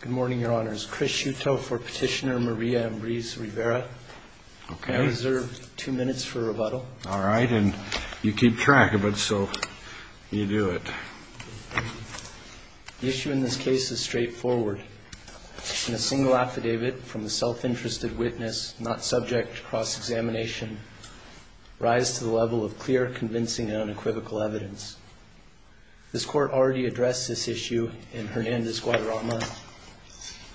Good morning, Your Honors. Chris Shuto for Petitioner Maria Ambriz-Rivera. I reserve two minutes for rebuttal. All right, and you keep track of it, so you do it. The issue in this case is straightforward. In a single affidavit from a self-interested witness not subject to cross-examination, rise to the level of clear, convincing, and unequivocal evidence. This Court already addressed this issue in Hernandez-Guadarrama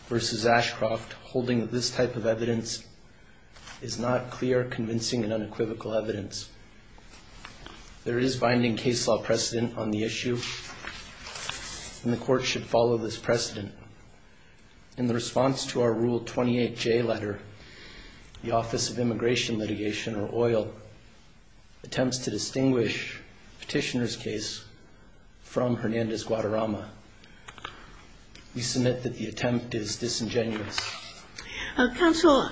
v. Ashcroft, holding that this type of evidence is not clear, convincing, and unequivocal evidence. There is binding case law precedent on the issue, and the Court should follow this precedent. In the response to our Rule 28J letter, the Office of Immigration Litigation, or OIL, attempts to distinguish Petitioner's case from Hernandez-Guadarrama. We submit that the attempt is disingenuous. Counsel,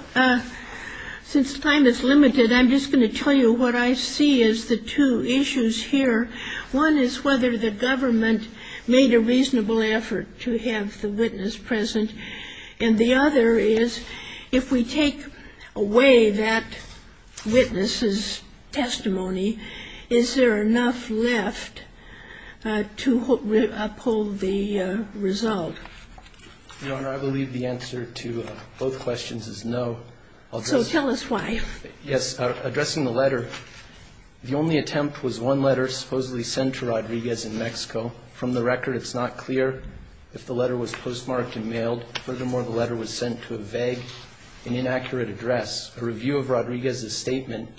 since time is limited, I'm just going to tell you what I see as the two issues here. One is whether the government made a reasonable effort to have the witness present, and the other is if we take away that witness's testimony, is there enough left to uphold the result? Your Honor, I believe the answer to both questions is no. So tell us why. Yes. Addressing the letter, the only attempt was one letter supposedly sent to Rodriguez in Mexico. From the record, it's not clear if the letter was postmarked and mailed. Furthermore, the letter was sent to a vague and inaccurate address. A review of Rodriguez's statement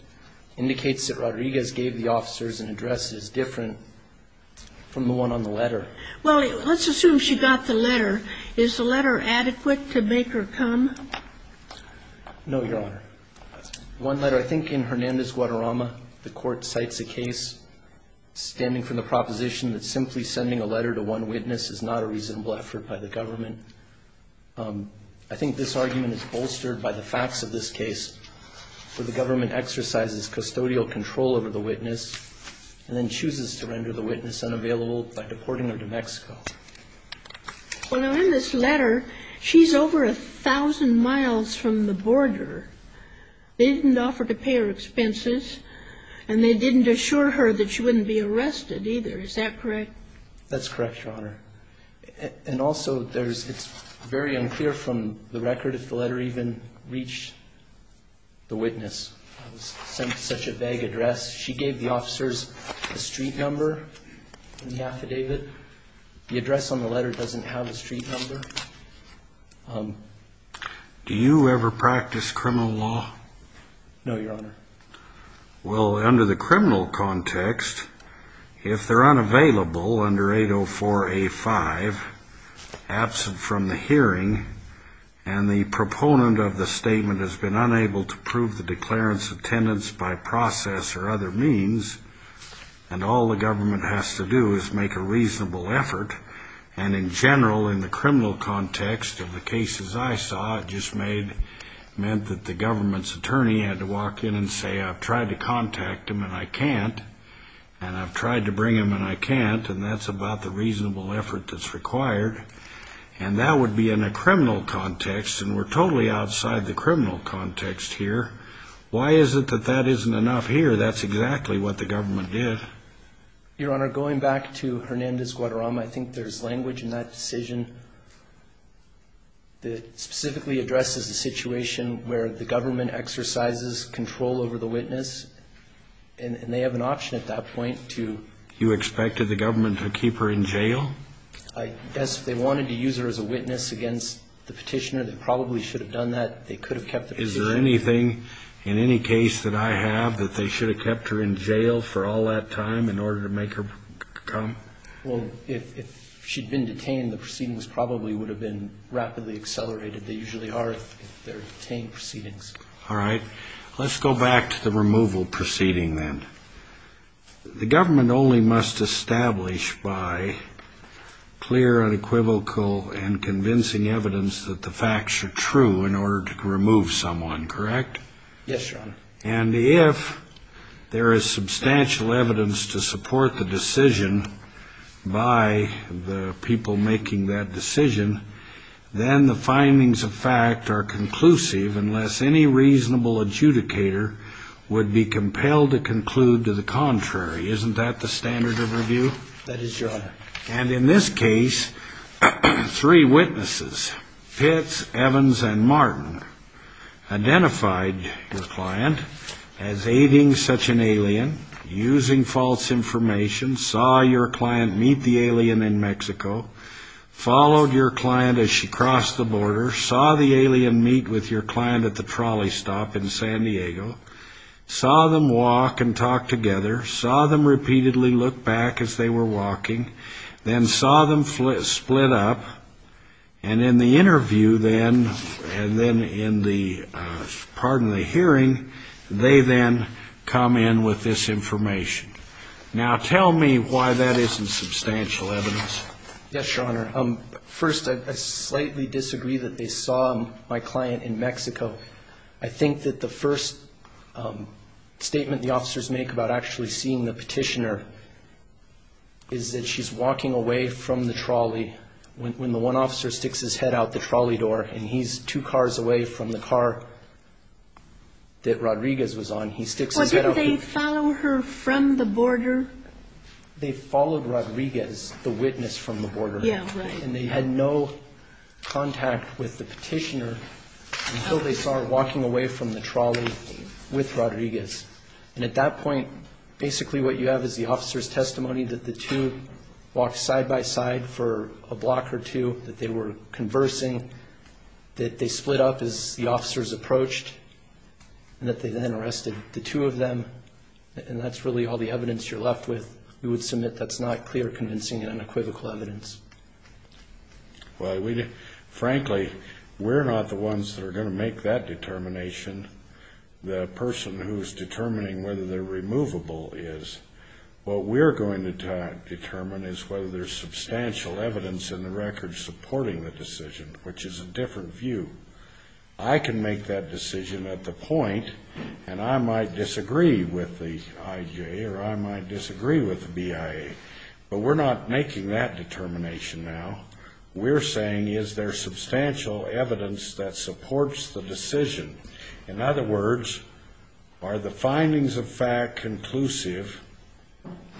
indicates that Rodriguez gave the officers an address that is different from the one on the letter. Well, let's assume she got the letter. Is the letter adequate to make her come? No, Your Honor. One letter, I think in Hernandez-Guadarrama, the Court cites a case standing from the proposition that simply sending a letter to one witness is not a reasonable effort by the government. I think this argument is bolstered by the facts of this case, where the government exercises custodial control over the witness and then chooses to render the witness unavailable by deporting her to Mexico. Well, now, in this letter, she's over a thousand miles from the border. They didn't offer to pay her expenses, and they didn't assure her that she wouldn't be arrested either. Is that correct? That's correct, Your Honor. And also, it's very unclear from the record if the letter even reached the witness. It was sent to such a vague address. She gave the officers a street number in the affidavit. The address on the letter doesn't have a street number. Do you ever practice criminal law? No, Your Honor. Well, under the criminal context, if they're unavailable under 804A5, absent from the hearing, and the proponent of the statement has been unable to prove the declarant's attendance by process or other means, and all the government has to do is make a reasonable effort, and in general, in the criminal context of the cases I saw, it just meant that the government's attorney had to walk in and say, I've tried to contact him and I can't, and I've tried to bring him and I can't, and that's about the reasonable effort that's required. And that would be in a criminal context, and we're totally outside the criminal context here. Why is it that that isn't enough here? That's exactly what the government did. Your Honor, going back to Hernandez-Guadarrama, I think there's language in that decision that specifically addresses the situation where the government exercises control over the witness, and they have an option at that point to ---- You expected the government to keep her in jail? I guess they wanted to use her as a witness against the petitioner. They probably should have done that. They could have kept the petitioner. Is there anything in any case that I have that they should have kept her in jail for all that time in order to make her come? Well, if she'd been detained, the proceedings probably would have been rapidly accelerated. They usually are if they're detained proceedings. All right. Let's go back to the removal proceeding then. The government only must establish by clear and equivocal and convincing evidence that the facts are true in order to remove someone, correct? Yes, Your Honor. And if there is substantial evidence to support the decision by the people making that decision, then the findings of fact are conclusive unless any reasonable adjudicator would be compelled to conclude to the contrary. Isn't that the standard of review? That is, Your Honor. And in this case, three witnesses, Pitts, Evans, and Martin, identified your client as aiding such an alien, using false information, saw your client meet the alien in Mexico, followed your client as she crossed the border, saw the alien meet with your client at the trolley stop in San Diego, saw them walk and talk together, saw them repeatedly look back as they were walking, then saw them split up, and in the interview then, and then in the hearing, they then come in with this information. Now, tell me why that isn't substantial evidence. Yes, Your Honor. First, I slightly disagree that they saw my client in Mexico. I think that the first statement the officers make about actually seeing the petitioner is that she's walking away from the trolley when the one officer sticks his head out the trolley door and he's two cars away from the car that Rodriguez was on. He sticks his head out. Well, didn't they follow her from the border? They followed Rodriguez, the witness, from the border. Yeah, right. And they had no contact with the petitioner until they saw her walking away from the trolley with Rodriguez. And at that point, basically what you have is the officer's testimony that the two walked side by side for a block or two, that they were conversing, that they split up as the officers approached, and that they then arrested the two of them. And that's really all the evidence you're left with. You would submit that's not clear, convincing, and unequivocal evidence. Well, frankly, we're not the ones that are going to make that determination. The person who's determining whether they're removable is. What we're going to determine is whether there's substantial evidence in the record supporting the decision, which is a different view. I can make that decision at the point, and I might disagree with the IJ or I might disagree with the BIA, but we're not making that determination now. We're saying is there substantial evidence that supports the decision? In other words, are the findings of fact conclusive?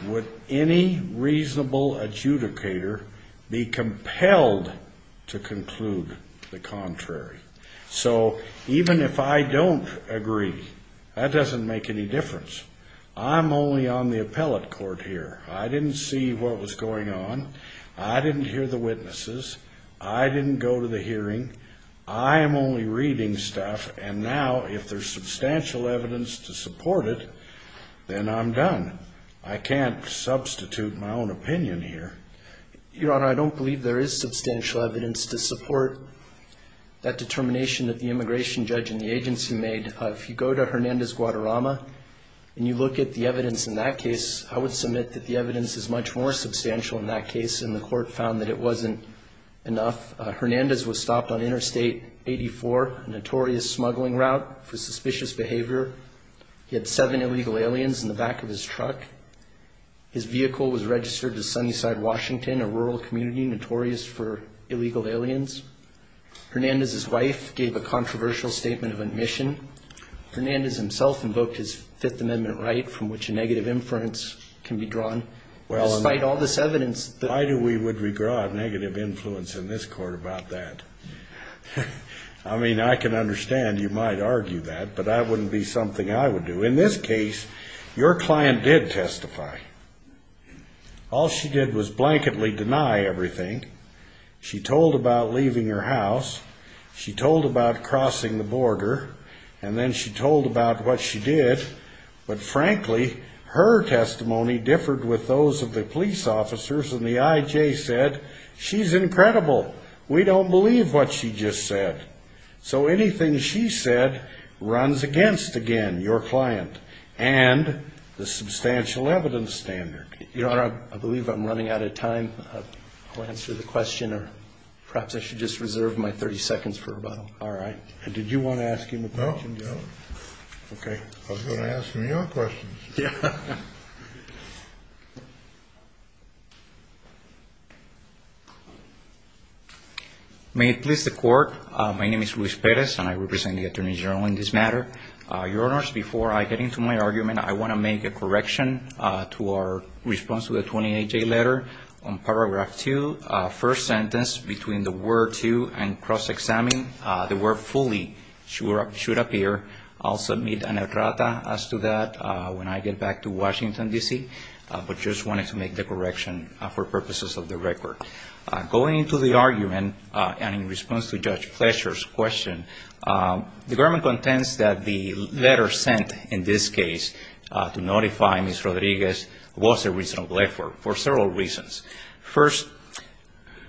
Would any reasonable adjudicator be compelled to conclude the contrary? So even if I don't agree, that doesn't make any difference. I'm only on the appellate court here. I didn't see what was going on. I didn't hear the witnesses. I didn't go to the hearing. I am only reading stuff, and now if there's substantial evidence to support it, then I'm done. I can't substitute my own opinion here. Your Honor, I don't believe there is substantial evidence to support that determination that the immigration judge and the agency made. If you go to Hernandez-Guadarrama and you look at the evidence in that case, I would submit that the evidence is much more substantial in that case, and the court found that it wasn't enough. Hernandez was stopped on Interstate 84, a notorious smuggling route for suspicious behavior. He had seven illegal aliens in the back of his truck. His vehicle was registered to Sunnyside, Washington, a rural community notorious for illegal aliens. Hernandez's wife gave a controversial statement of admission. Hernandez himself invoked his Fifth Amendment right from which a negative inference can be drawn. Despite all this evidence that we would regard negative influence in this court about that. I mean, I can understand you might argue that, but that wouldn't be something I would do. But in this case, your client did testify. All she did was blanketly deny everything. She told about leaving her house. She told about crossing the border. And then she told about what she did. But frankly, her testimony differed with those of the police officers. And the I.J. said, she's incredible. We don't believe what she just said. So anything she said runs against, again, your client. And the substantial evidence standard. Your Honor, I believe I'm running out of time to answer the question. Or perhaps I should just reserve my 30 seconds for about all right. Did you want to ask him a question? No. Okay. I was going to ask him your questions. Yeah. May it please the Court, my name is Luis Perez, and I represent the attorney general in this matter. Your Honors, before I get into my argument, I want to make a correction to our response to the 28-J letter. On paragraph 2, first sentence between the word to and cross-examine, the word fully should appear. I'll submit an errata as to that when I get back to the court. But just wanted to make the correction for purposes of the record. Going into the argument, and in response to Judge Fletcher's question, the government contends that the letter sent in this case to notify Ms. Rodriguez was a reasonable effort for several reasons. First,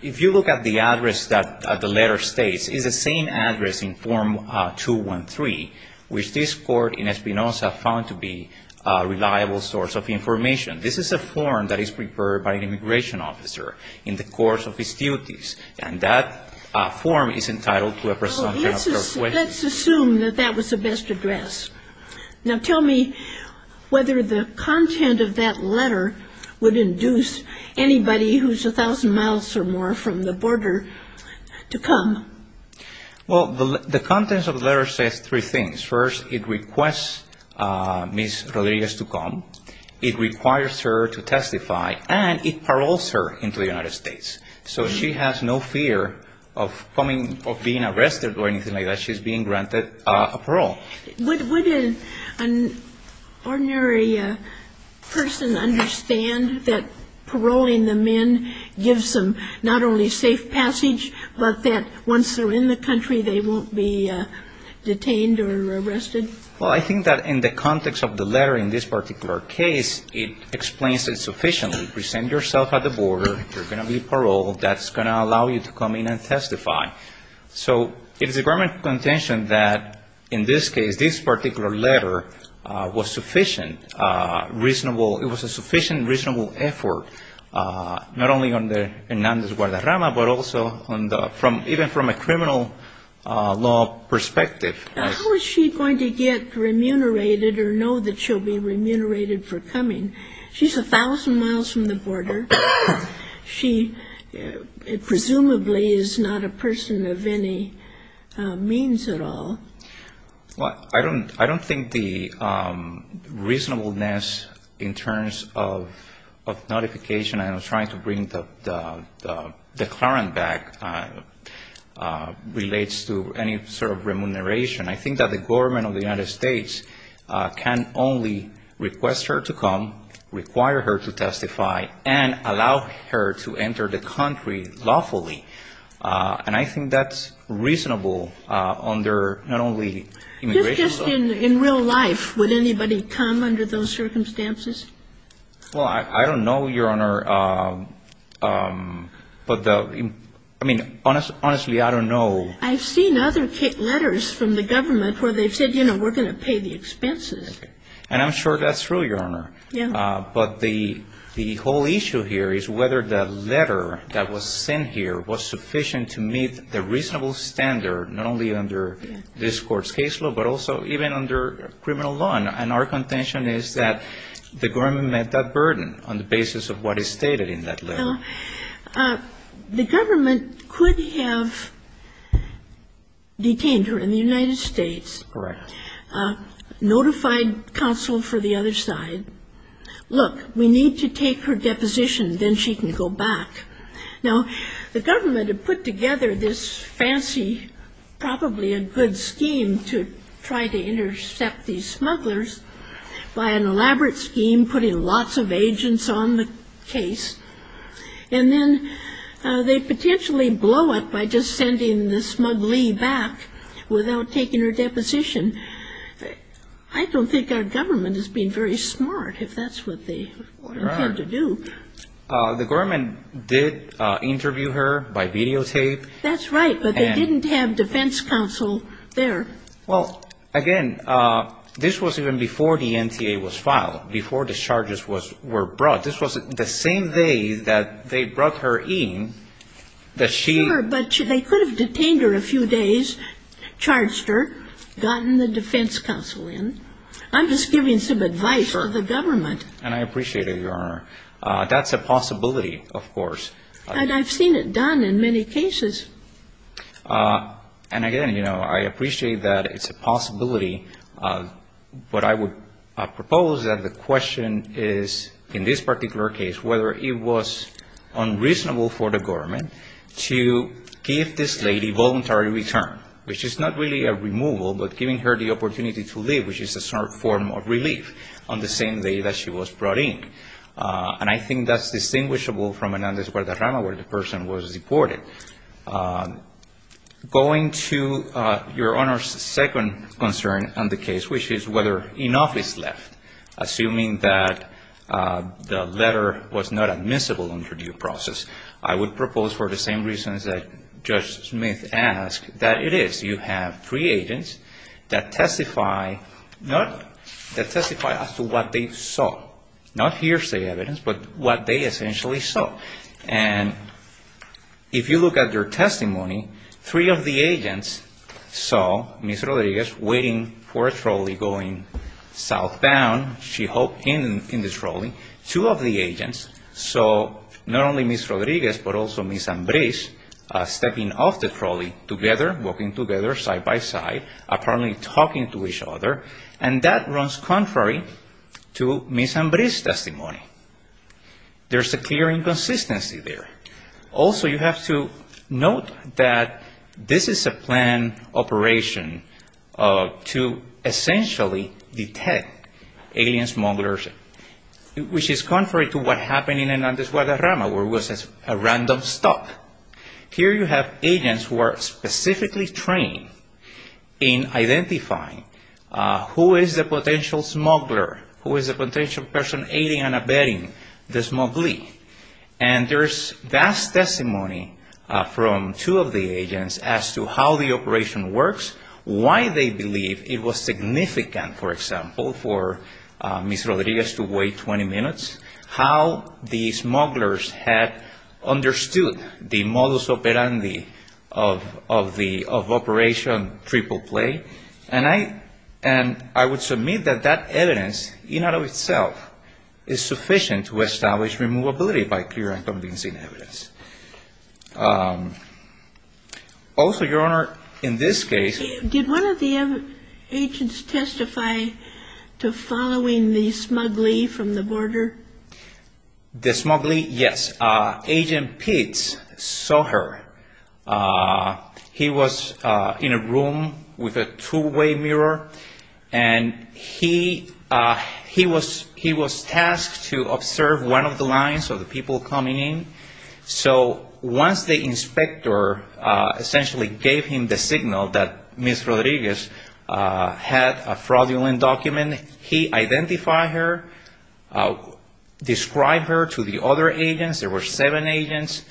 if you look at the address that the letter states, it's the same address in Form 213, which this Court in Espinoza found to be a reliable source of information. This is a form that is prepared by an immigration officer in the course of his duties, and that form is entitled to a presumption of fair question. Well, let's assume that that was the best address. Now, tell me whether the content of that letter would induce anybody who's a thousand miles or more from the border to come. Well, the contents of the letter says three things. First, it requests Ms. Rodriguez to come. It requires her to testify, and it paroles her into the United States. So she has no fear of coming, of being arrested or anything like that. She's being granted a parole. Would an ordinary person understand that paroling the men gives them not only safe passage, but that once they're in the country, they won't be detained or arrested? Well, I think that in the context of the letter in this particular case, it explains it sufficiently. Present yourself at the border. You're going to be paroled. That's going to allow you to come in and testify. So it is the government's contention that in this case, this particular letter was sufficient, reasonable. It was a sufficient, reasonable effort, not only under Hernandez-Guardarama, but also even from a criminal law perspective. How is she going to get remunerated or know that she'll be remunerated for coming? She's a thousand miles from the border. She presumably is not a person of any means at all. Well, I don't think the reasonableness in terms of notification and trying to bring the declarant back relates to any sort of remuneration. I think that the government of the United States can only request her to come, require her to testify, and allow her to enter the country lawfully. And I think that's reasonable under not only immigration law. Just in real life, would anybody come under those circumstances? Well, I don't know, Your Honor. But the – I mean, honestly, I don't know. I've seen other letters from the government where they've said, you know, we're going to pay the expenses. And I'm sure that's true, Your Honor. Yeah. But the whole issue here is whether the letter that was sent here was sufficient to meet the reasonable standard, not only under this Court's caseload, but also even under criminal law. And our contention is that the government met that burden on the basis of what is stated in that letter. Now, the government could have detained her in the United States. Correct. Notified counsel for the other side. Look, we need to take her deposition. Then she can go back. Now, the government had put together this fancy, probably a good scheme to try to intercept these smugglers by an elaborate scheme, putting lots of agents on the case. And then they potentially blow it by just sending the smuggly back without taking her deposition. I don't think our government has been very smart if that's what they intend to do. The government did interview her by videotape. That's right. But they didn't have defense counsel there. Well, again, this was even before the NTA was filed, before the charges were brought. This was the same day that they brought her in that she ---- Sure, but they could have detained her a few days, charged her, gotten the defense counsel in. I'm just giving some advice to the government. And I appreciate it, Your Honor. That's a possibility, of course. And I've seen it done in many cases. And, again, you know, I appreciate that it's a possibility. But I would propose that the question is, in this particular case, whether it was unreasonable for the government to give this lady voluntary return, which is not really a removal, but giving her the opportunity to live, which is a sort of form of relief on the same day that she was brought in. And I think that's distinguishable from Hernandez-Guardarama, where the person was deported. Going to Your Honor's second concern on the case, which is whether enough is left, assuming that the letter was not admissible under due process, I would propose for the same reasons that Judge Smith asked, that it is. You have three agents that testify as to what they saw. Not hearsay evidence, but what they essentially saw. And if you look at their testimony, three of the agents saw Ms. Rodriguez waiting for a trolley going southbound. She hoped in the trolley. Two of the agents saw not only Ms. Rodriguez, but also Ms. Ambriz, stepping off the trolley together, walking together side by side, apparently talking to each other. And that runs contrary to Ms. Ambriz's testimony. There's a clear inconsistency there. Also, you have to note that this is a planned operation to essentially detect alien smugglers, which is contrary to what happened in Hernandez-Guardarama, where it was a random stop. Here you have agents who are specifically trained in identifying who is the potential smuggler, who is the potential person aiding and abetting the smuggler. And there's vast testimony from two of the agents as to how the operation works, why they believe it was significant, for example, for Ms. Rodriguez to wait 20 minutes, how these smugglers had understood the modus operandi of Operation Triple Play. And I would submit that that evidence in and of itself is sufficient to establish removability by clear and convincing evidence. Also, Your Honor, in this case- Did one of the agents testify to following the smuggler from the border? The smuggler, yes. Agent Pitts saw her. He was in a room with a two-way mirror, and he was tasked to observe one of the lines of the people coming in. So once the inspector essentially gave him the signal that Ms. Rodriguez had a fraudulent document, he identified her, described her to the other agents. There were seven agents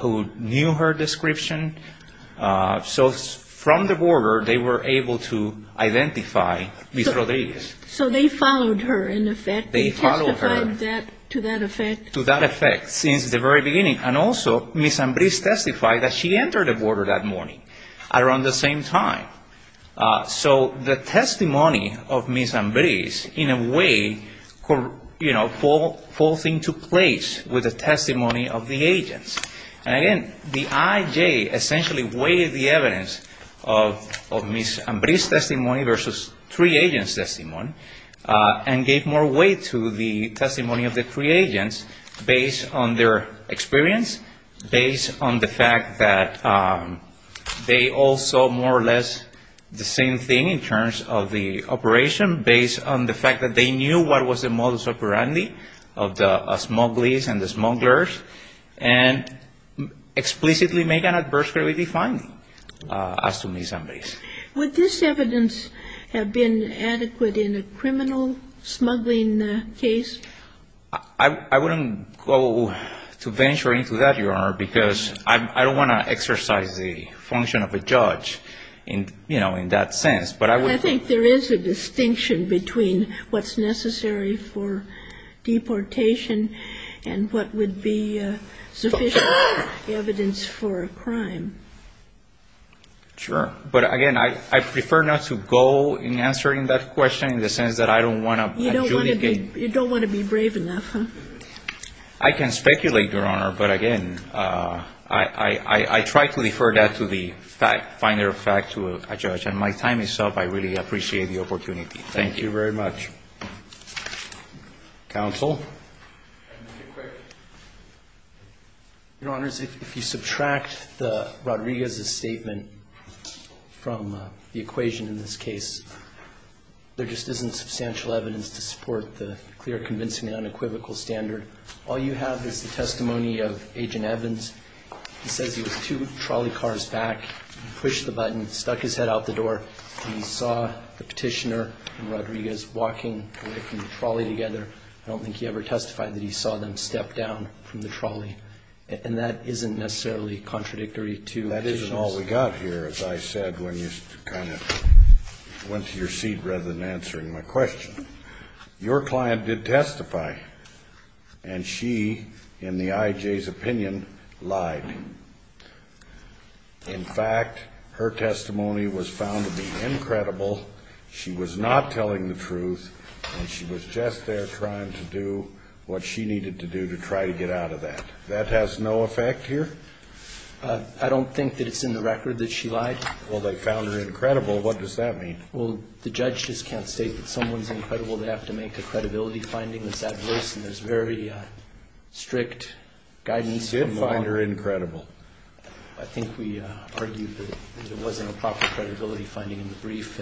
who knew her description. So from the border, they were able to identify Ms. Rodriguez. So they followed her, in effect? They followed her. They testified to that effect? To that effect, since the very beginning. And also, Ms. Ambriz testified that she entered the border that morning, around the same time. So the testimony of Ms. Ambriz, in a way, you know, falls into place with the testimony of the agents. And again, the IJ essentially weighed the evidence of Ms. Ambriz's testimony versus three agents' testimony and gave more weight to the testimony of the three agents based on their experience, based on the fact that they all saw more or less the same thing in terms of the operation, based on the fact that they knew what was the modus operandi of the smugglies and the smugglers, and explicitly make an adversarially defined as to Ms. Ambriz. Would this evidence have been adequate in a criminal smuggling case? I wouldn't go to venture into that, Your Honor, because I don't want to exercise the function of a judge, you know, in that sense. But I would think there is a distinction between what's necessary for deportation Sure. But again, I prefer not to go in answering that question in the sense that I don't want to adjudicate You don't want to be brave enough, huh? I can speculate, Your Honor. But again, I try to defer that to the finer fact to a judge. And my time is up. I really appreciate the opportunity. Thank you very much. Counsel? Your Honors, if you subtract the Rodriguez's statement from the equation in this case, there just isn't substantial evidence to support the clear, convincing, unequivocal standard. All you have is the testimony of Agent Evans. He says he was two trolley cars back. He pushed the button, stuck his head out the door, and he saw the petitioner and Rodriguez walking away from the trolley together. I don't think he ever testified that he saw them step down from the trolley. And that isn't necessarily contradictory to the evidence. That isn't all we got here, as I said, when you kind of went to your seat rather than answering my question. Your client did testify, and she, in the I.J.'s opinion, lied. In fact, her testimony was found to be incredible. She was not telling the truth, and she was just there trying to do what she needed to do to try to get out of that. That has no effect here? I don't think that it's in the record that she lied. Well, they found her incredible. What does that mean? Well, the judge just can't state that someone's incredible. They have to make a credibility finding that's adverse, and there's very strict guidance. You did find her incredible. I think we argued that there wasn't a proper credibility finding in the brief.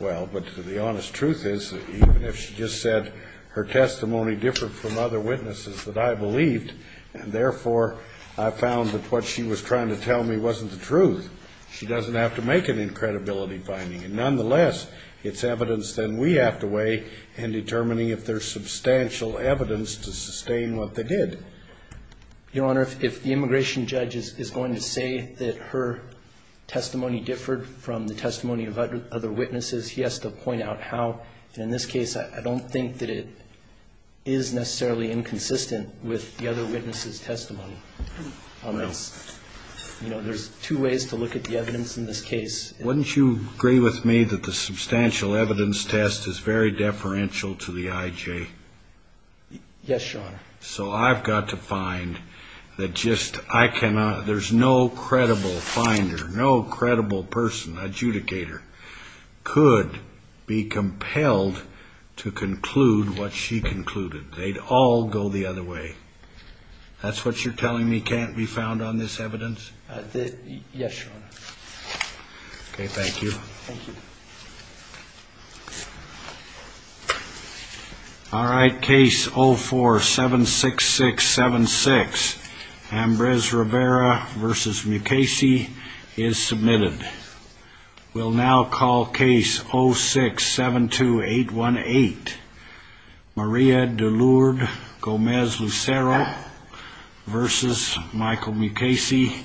Well, but the honest truth is that even if she just said her testimony differed from other witnesses that I believed, and therefore I found that what she was trying to tell me wasn't the truth, she doesn't have to make an incredibility finding. And nonetheless, it's evidence that we have to weigh in determining if there's substantial evidence to sustain what they did. Your Honor, if the immigration judge is going to say that her testimony differed from the testimony of other witnesses, he has to point out how. In this case, I don't think that it is necessarily inconsistent with the other witnesses' testimony. You know, there's two ways to look at the evidence in this case. Wouldn't you agree with me that the substantial evidence test is very deferential to the IJ? Yes, Your Honor. So I've got to find that just, I cannot, there's no credible finder, no credible person, adjudicator, could be compelled to conclude what she concluded. They'd all go the other way. That's what you're telling me can't be found on this evidence? Yes, Your Honor. Okay, thank you. Thank you. All right, case 0476676, Ambrose Rivera v. Mukasey, is submitted. We'll now call case 0672818, Maria DeLourde Gomez Lucero v. Michael Mukasey.